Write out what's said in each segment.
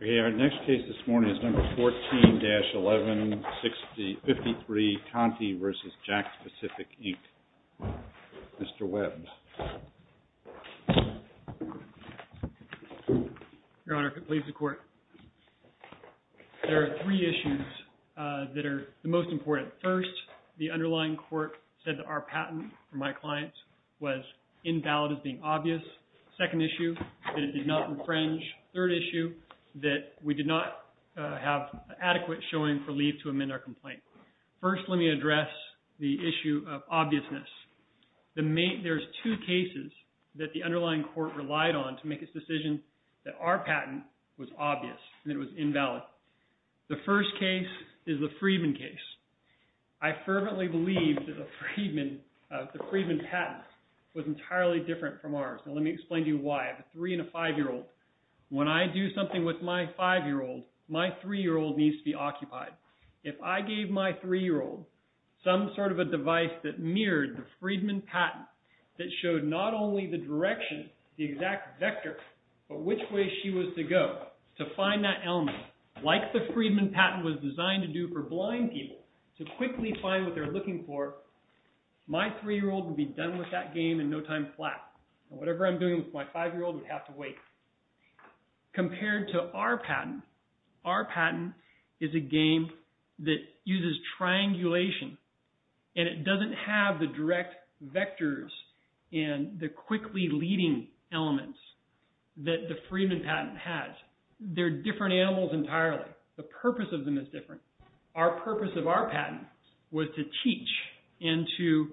Okay, our next case this morning is number 14-11-53, Conte v. Jakks Pacific, Inc., Mr. Webb. Your Honor, if it pleases the Court, there are three issues that are the most important. First, the underlying court said that our patent for my client was invalid as being obvious. Second issue, that it did not infringe. Third issue, that we did not have adequate showing for leave to amend our complaint. First, let me address the issue of obviousness. There's two cases that the underlying court relied on to make its decision that our patent was obvious and it was invalid. The first case is the Freedman case. I fervently believe that the Freedman patent was entirely different from ours. Now let me explain to you why. I have a three and a five-year-old. When I do something with my five-year-old, my three-year-old needs to be occupied. If I gave my three-year-old some sort of a device that mirrored the Freedman patent, that showed not only the direction, the exact vector, but which way she was to go to find that element, like the Freedman patent was designed to do for blind people, to quickly find what they're looking for, my three-year-old would be done with that game in no time flat. Whatever I'm doing with my five-year-old would have to wait. Compared to our patent, our patent is a game that uses triangulation and it doesn't have the direct vectors and the quickly leading elements that the Freedman patent has. They're different animals entirely. The purpose of them is different. Our purpose of our patent was to teach and to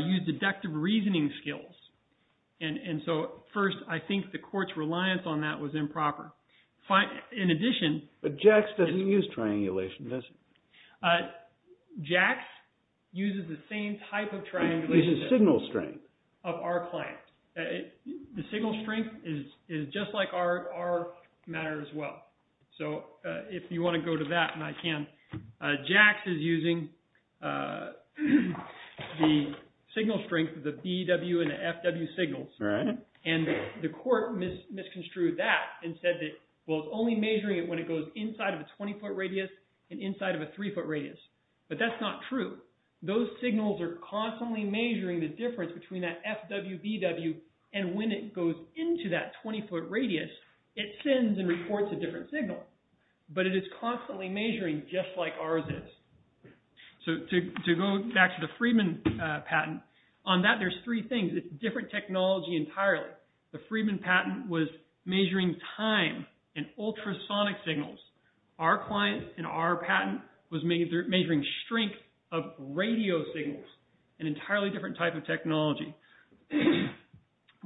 use and the court's reliance on that was improper. In addition... But JAX doesn't use triangulation, does it? JAX uses the same type of triangulation... It uses signal strength. ...of our client. The signal strength is just like our matter as well. So if you want to go to that, I can. JAX is using the signal strength of the BEW and the FW signals and the court misconstrued that and said that, well, it's only measuring it when it goes inside of a 20-foot radius and inside of a 3-foot radius, but that's not true. Those signals are constantly measuring the difference between that FWBEW and when it goes into that 20-foot radius, it sends and reports a different signal, but it is constantly measuring just like ours is. So to go back to the Freedman patent, on that there's three things. It's different technology entirely. The Freedman patent was measuring time and ultrasonic signals. Our client in our patent was measuring strength of radio signals, an entirely different type of technology.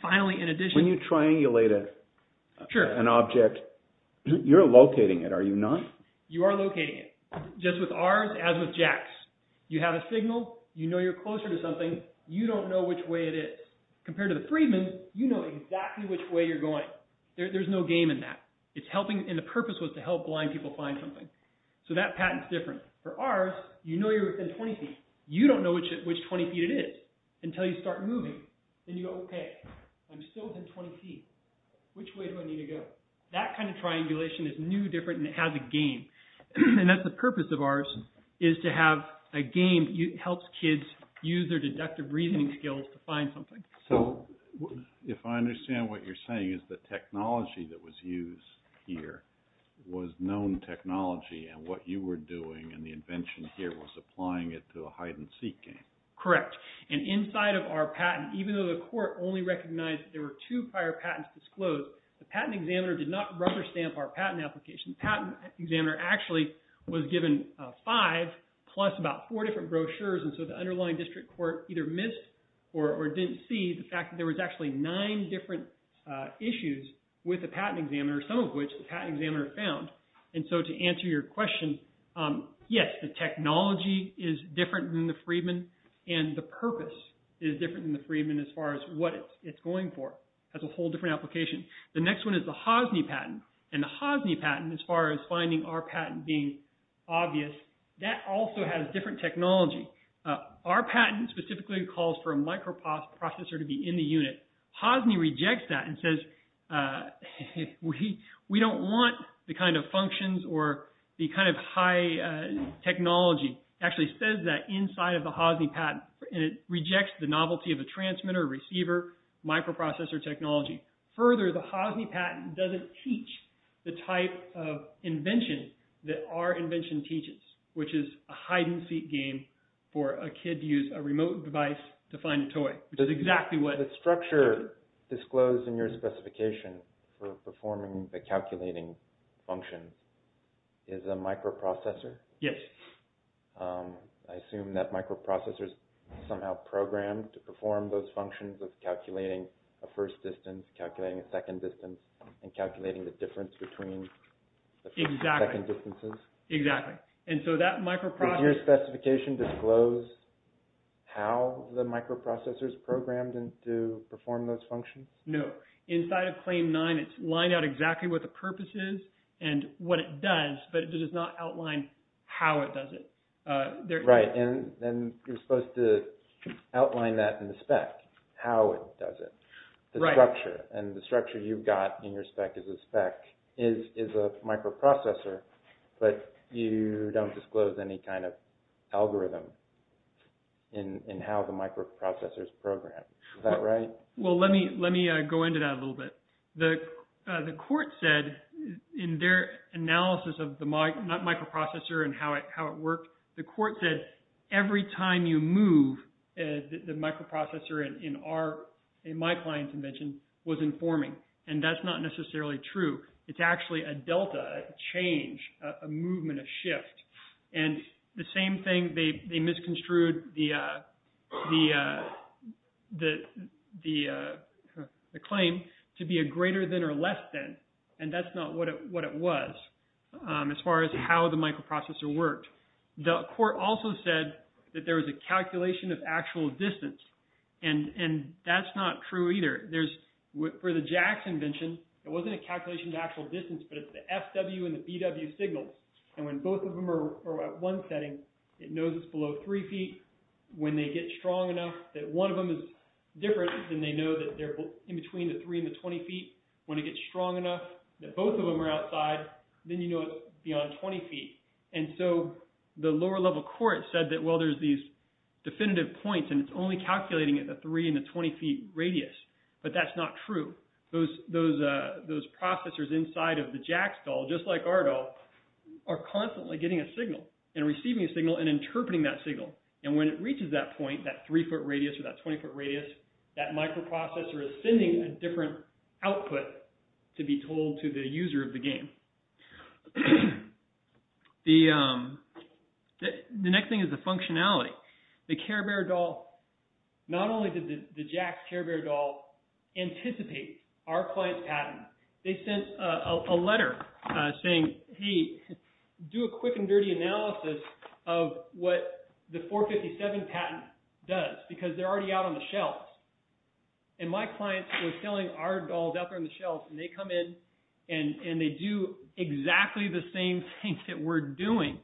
Finally, in addition... When you triangulate an object, you're locating it, are you not? You are locating it. Just with ours, as with JAX. You have a signal, you know you're closer to something, you don't know which way it is. Compared to the Freedman, you know exactly which way you're going. There's no game in that. The purpose was to help blind people find something. So that patent's different. For ours, you know you're within 20 feet. You don't know which 20 feet it is until you start moving. Then you go, okay, I'm still within 20 feet. Which way do I need to go? That kind of triangulation is new, different, and it has a game. And that's the purpose of ours, is to have a game that helps kids use their deductive reasoning skills to find something. So if I understand what you're saying is the technology that was used here was known technology and what you were doing and the invention here was applying it to a hide-and-seek game. Correct. And inside of our patent, even though the court only recognized there were two prior patents disclosed, the patent examiner did not rubber stamp our patent application. The patent examiner actually was given five plus about four different brochures. And so the underlying district court either missed or didn't see the fact that there was actually nine different issues with the patent examiner, some of which the patent examiner found. And so to answer your question, yes, the technology is different than the Freedman and the purpose is different than the Freedman as far as what it's going for. That's a whole different application. The next one is the Hosny patent. And the Hosny patent, as far as finding our patent being obvious, that also has different technology. Our patent specifically calls for a microprocessor to be in the unit. Hosny rejects that and says we don't want the kind of functions or the kind of high technology. It actually says that inside of the Hosny patent and it rejects the novelty of a transmitter, receiver, microprocessor technology. Further, the Hosny patent doesn't teach the type of invention that our invention teaches, which is a hide-and-seek game for a kid to use a remote device to find a toy, which is exactly what... The structure disclosed in your specification for performing the calculating function is a microprocessor? Yes. I assume that microprocessors somehow programmed to perform those functions of calculating a first distance, calculating a second distance, and calculating the difference between the second distances? Exactly. And so that microprocessor... Does your specification disclose how the microprocessor is programmed to perform those functions? No. Inside of Claim 9, it's lined out exactly what the purpose is and what it does, but it does not outline how it does it. Right. And you're supposed to outline that in the spec, how it does it, the structure. And the structure you've got in your spec is a spec, is a microprocessor, but you don't disclose any kind of algorithm in how the microprocessors program. Is that right? Well, let me go into that a little bit. The court said in their analysis of the microprocessor and how it worked, the court said every time you move, the microprocessor in my client's invention was informing. And that's not the same thing. They misconstrued the claim to be a greater than or less than, and that's not what it was as far as how the microprocessor worked. The court also said that there was a calculation of actual distance, and that's not true either. For the Jack's invention, it wasn't a calculation of distance, but it's the FW and the BW signals. And when both of them are at one setting, it knows it's below three feet. When they get strong enough that one of them is different, then they know that they're in between the three and the 20 feet. When it gets strong enough that both of them are outside, then you know it's beyond 20 feet. And so the lower level court said that, well, there's these definitive points and it's only calculating at the three and the 20 feet radius, but that's not true. Those processors inside of the Jack's doll, just like our doll, are constantly getting a signal and receiving a signal and interpreting that signal. And when it reaches that point, that three foot radius or that 20 foot radius, that microprocessor is sending a different output to be told to the user of the game. The next thing is the functionality. The Care Bear doll, not only did the Jack's Care Bear doll anticipate our client's patent, they sent a letter saying, hey, do a quick and dirty analysis of what the 457 patent does because they're already out on the shelves. And my client was selling our dolls out there on the shelves and they come in and they do exactly the same thing that we're doing.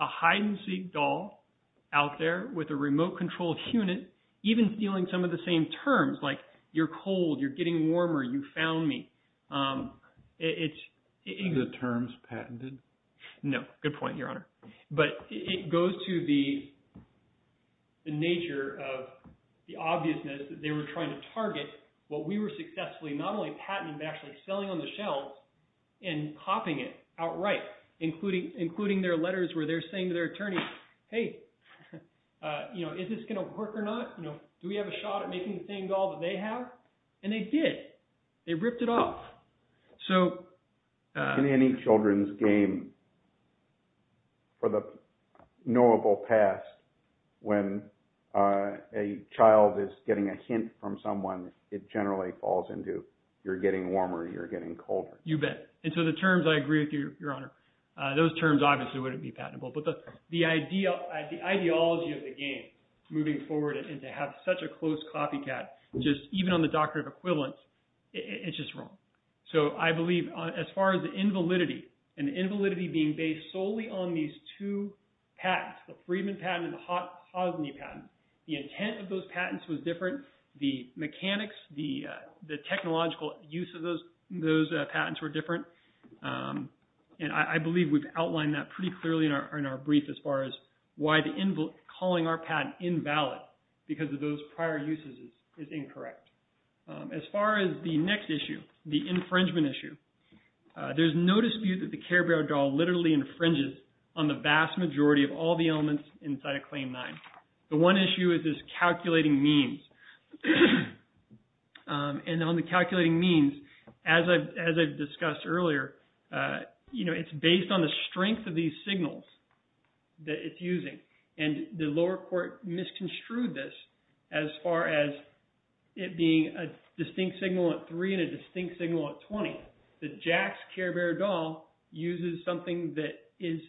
A hide and seek doll out there with a remote controlled unit, even stealing some of the same terms, like you're cold, you're getting warmer, you found me. The term's patented. No, good point, Your Honor. But it goes to the nature of the obviousness that they were trying to target what we were successfully not only patenting, but actually selling on the shelves and copying it outright, including their letters where they're saying to their attorney, hey, is this going to work or not? Do we have a shot at making the same doll that they have? And they did. They ripped it off. So- In any children's game for the knowable past, when a child is getting a hint from someone, it generally falls into, you're getting warmer, you're getting colder. You bet. And so the terms, I agree with you, Your Honor. Those terms obviously wouldn't be the ideology of the game moving forward and to have such a close copycat, just even on the doctrine of equivalence, it's just wrong. So I believe as far as the invalidity, and the invalidity being based solely on these two patents, the Friedman patent and the Hosni patent, the intent of those patents was different. The mechanics, the technological use of those patents were different. And I believe we've outlined that pretty clearly in our brief as far as why the calling our patent invalid because of those prior uses is incorrect. As far as the next issue, the infringement issue, there's no dispute that the Care Bear doll literally infringes on the vast majority of all the elements inside of Claim 9. The one issue is this calculating means. And on the calculating means, as I've discussed earlier, it's based on the strength of these signals that it's using. And the lower court misconstrued this as far as it being a distinct signal at 3 and a distinct signal at 20. The Jax Care Bear doll uses something that is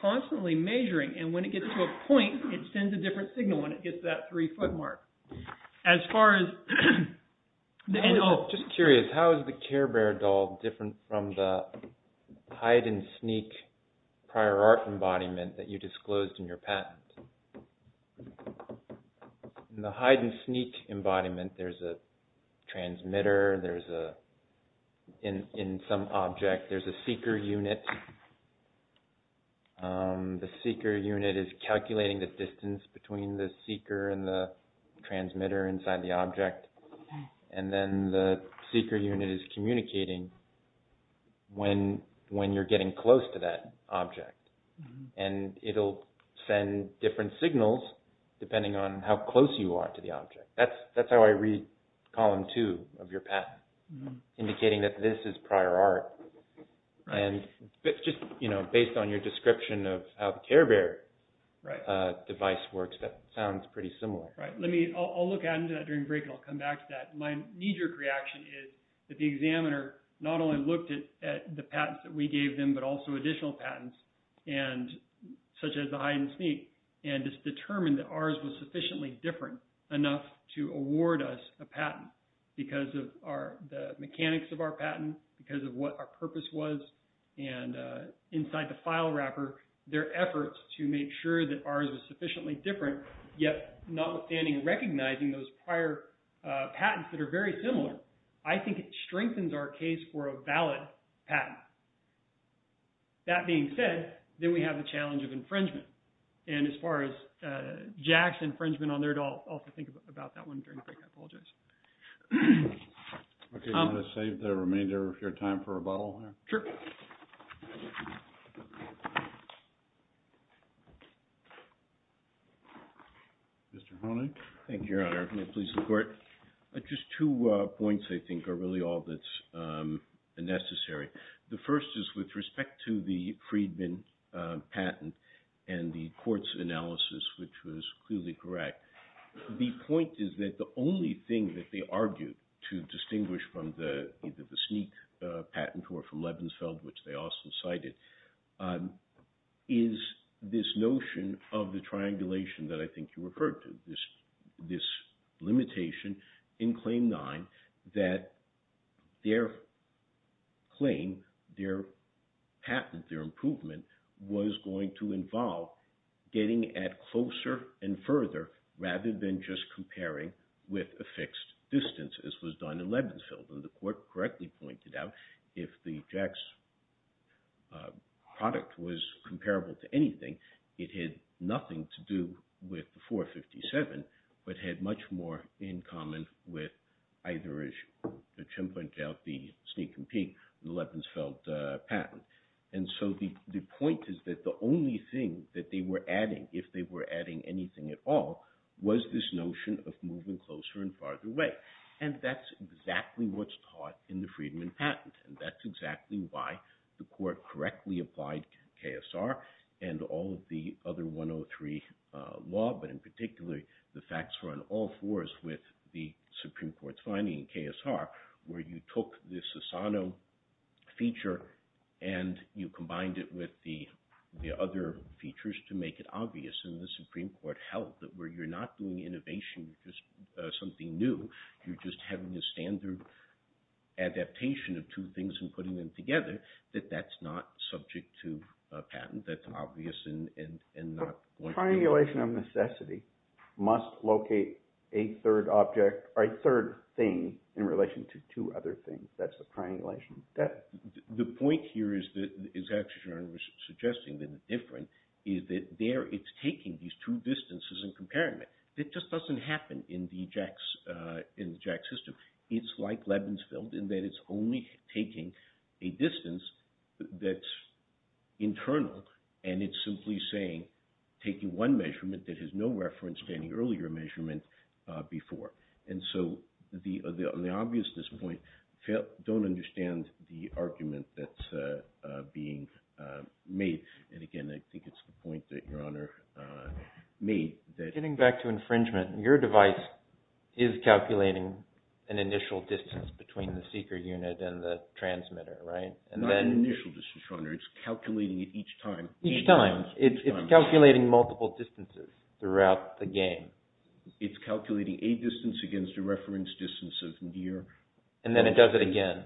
constantly measuring and when it gets to a point, it sends a different signal when it hits that 3-foot mark. As far as... Just curious, how is the Care Bear doll different from the Hide and Sneak prior art embodiment that you disclosed in your patent? In the Hide and Sneak embodiment, there's a transmitter, there's a... In some object, there's a seeker unit. The seeker unit is calculating the distance between the seeker and the transmitter inside the object. And then the seeker unit is communicating when you're getting close to that object. And it'll send different signals depending on how close you are to the object. That's how I read column 2 of your patent, indicating that this is prior art. And just based on your description of how the Care Bear device works, that sounds pretty similar. Right. I'll look at it during break and I'll come back to that. My knee-jerk reaction is that the examiner not only looked at the patents that we gave them, but also additional patents such as the Hide and Sneak. And it's determined that ours was sufficiently different enough to understand what purpose was. And inside the file wrapper, their efforts to make sure that ours was sufficiently different, yet notwithstanding recognizing those prior patents that are very similar, I think it strengthens our case for a valid patent. That being said, then we have the challenge of infringement. And as far as Jack's infringement on there, I'll have to think about that one during the break. I apologize. Okay. You want to save the remainder of time for rebuttal? Sure. Mr. Honig. Thank you, Your Honor. May it please the Court. Just two points, I think, are really all that's necessary. The first is with respect to the Friedman patent and the Court's analysis, which was clearly correct. The point is that the only thing that they argued to distinguish from the Sneak patent or from Lebensfeld, which they also cited, is this notion of the triangulation that I think you referred to, this limitation in Claim 9 that their claim, their patent, their improvement was going to involve getting at closer and further rather than just comparing with a fixed distance, as was done in Lebensfeld. And the Court correctly pointed out, if the Jack's product was comparable to anything, it had nothing to do with the 457, but had much more in common with either, as Jim pointed out, the Sneak and Peek and Lebensfeld patent. And so the point is that the only thing that they were adding, if they were adding anything at all, was this notion of moving closer and farther away. And that's exactly what's taught in the Friedman patent. And that's exactly why the Court correctly applied KSR and all of the other 103 law, but in particular, the facts were on all fours with the Supreme Court's finding in KSR, where you took this Asano feature and you combined it with the other features to make it where you're not doing innovation, just something new. You're just having a standard adaptation of two things and putting them together, that that's not subject to a patent, that's obvious and not... The triangulation of necessity must locate a third object or a third thing in relation to two other things. That's the triangulation. The point here is that, suggesting that it's different, is that there it's taking these two distances in comparison. It just doesn't happen in the JAX system. It's like Lebensfeld in that it's only taking a distance that's internal and it's simply saying, taking one measurement that has no reference to any earlier measurement before. And so the obviousness point, don't understand the argument that's being made. And again, I think it's the point that Your Honor made that... Getting back to infringement, your device is calculating an initial distance between the seeker unit and the transmitter, right? Not an initial distance, Your Honor. It's calculating it each time. Each time. It's calculating multiple distances throughout the game. It's calculating a distance against a reference distance of near... And then it does it again.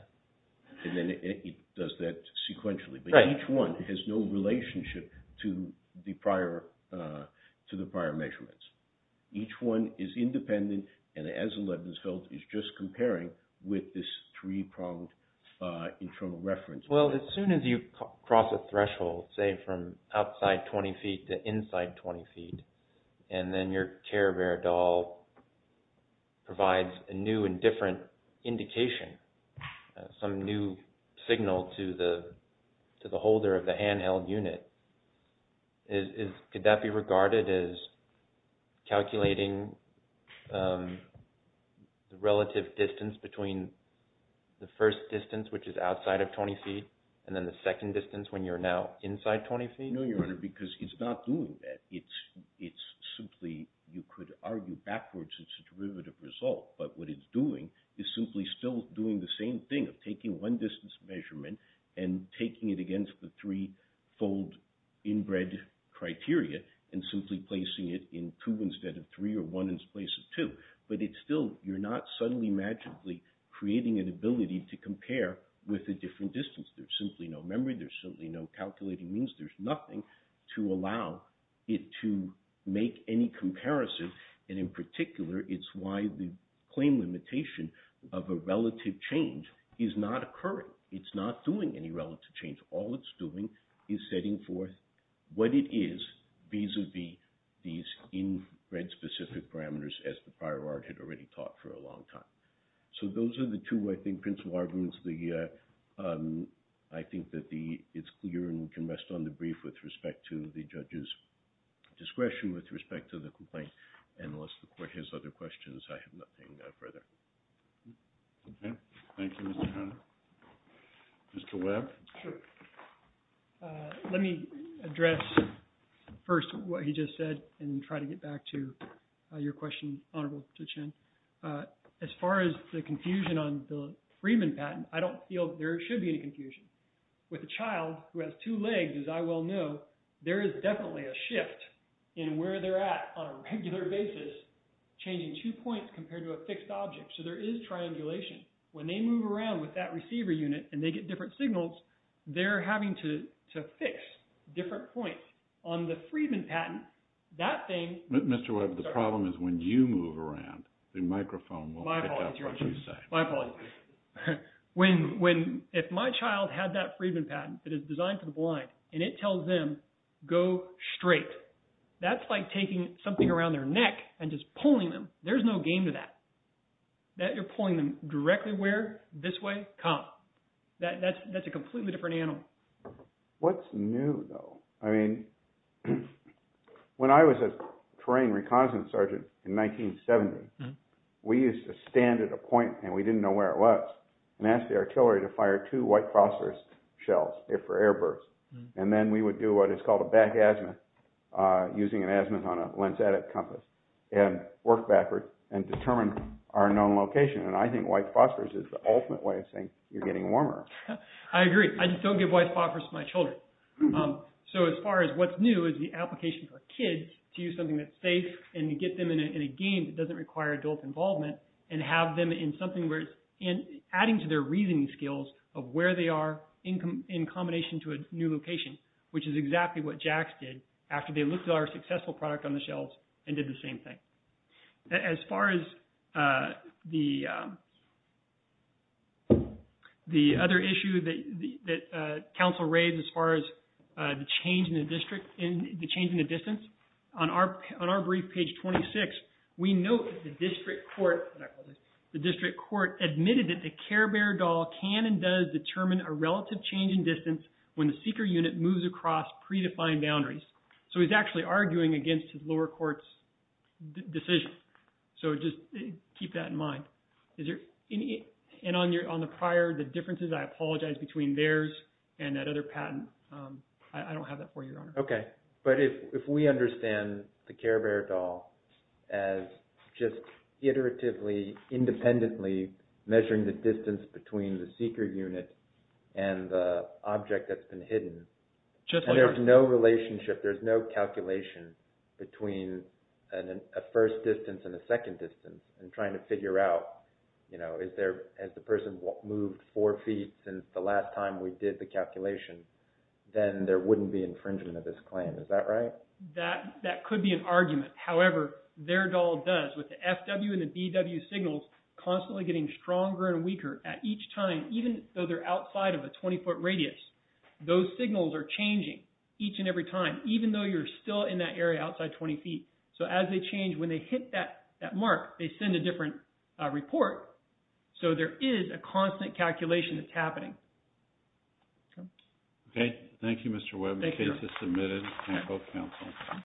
And then it does that sequentially, but each one has no relationship to the prior measurements. Each one is independent and, as in Lebensfeld, is just comparing with this three-pronged internal reference. Well, as soon as you cross a threshold, say from outside 20 feet to inside 20 feet, and then your Care Bear doll provides a new and different indication, some new signal to the holder of the handheld unit, could that be regarded as calculating the relative distance between the first distance, which is outside of 20 feet, and then the second distance when you're now inside 20 feet? No, Your Honor, because it's not doing that. You could argue backwards it's a derivative result, but what it's doing is simply still doing the same thing of taking one distance measurement and taking it against the three-fold inbred criteria and simply placing it in two instead of three or one in place of two. But you're not suddenly magically creating an ability to compare with a different distance. There's simply no memory. There's simply no calculating means. There's nothing to allow it to make any comparison. And in particular, it's why the claim limitation of a relative change is not occurring. It's not doing any relative change. All it's doing is setting forth what it is vis-a-vis these inbred specific parameters as the prior art had already taught for a long time. So those are the two, I think, principal arguments. I think that it's clear and we can rest on the brief with respect to the judge's discretion with respect to the complaint. And unless the court has other questions, I have nothing further. Okay. Thank you, Mr. Hunter. Mr. Webb? Sure. Let me address first what he just said and try to get back to your question, Honorable Tuchin. As far as confusion on the Friedman patent, I don't feel there should be any confusion. With a child who has two legs, as I well know, there is definitely a shift in where they're at on a regular basis, changing two points compared to a fixed object. So there is triangulation. When they move around with that receiver unit and they get different signals, they're having to fix different points. On the Friedman patent, that thing— Mr. Webb, the problem is when you move around, the microphone won't pick up what you say. My apologies. If my child had that Friedman patent that is designed for the blind and it tells them, go straight, that's like taking something around their neck and just pulling them. There's no game to that. You're pulling them directly where? This way? Come. That's a completely different animal. What's new, though? I mean, when I was a trained reconnaissance sergeant in 1970, we used to stand at a point, and we didn't know where it was, and ask the artillery to fire two white phosphorus shells for airbursts. Then we would do what is called a back azimuth, using an azimuth on a lens-attic compass, and work backwards and determine our known location. I think white phosphorus is the ultimate way of saying you're getting warmer. I agree. I just don't give white phosphorus. What's new is the application for kids to use something that's safe and get them in a game that doesn't require adult involvement and have them in something where it's adding to their reasoning skills of where they are in combination to a new location, which is exactly what JACS did after they looked at our successful product on the shelves and did the same thing. As far as the other issue that counsel raised as far as the change in the distance, on our brief, page 26, we note the district court admitted that the Care Bear doll can and does determine a relative change in distance when the seeker unit moves across predefined boundaries. He's actually arguing against his lower court's decision. Just keep that in mind. On the prior, the differences, I apologize, between theirs and that other patent, I don't have that for you, Your Honor. Okay. If we understand the Care Bear doll as just iteratively, independently measuring the distance between the seeker unit and the object that's been hidden, and there's no relationship, there's no calculation between a first distance and a second distance and trying to figure out, has the person moved four feet since the last time we did the calculation, then there wouldn't be infringement of this claim. Is that right? That could be an argument. However, their doll does, with the FW and the DW signals constantly getting stronger and weaker at each time, even though they're outside of a 20-foot radius. Those signals are changing each and every time, even though you're still in that area outside 20 feet. So as they change, when they hit that mark, they send a different report. So there is a constant calculation that's happening. Okay. Thank you, Mr. Webb. The case is submitted. Thank you both counsel.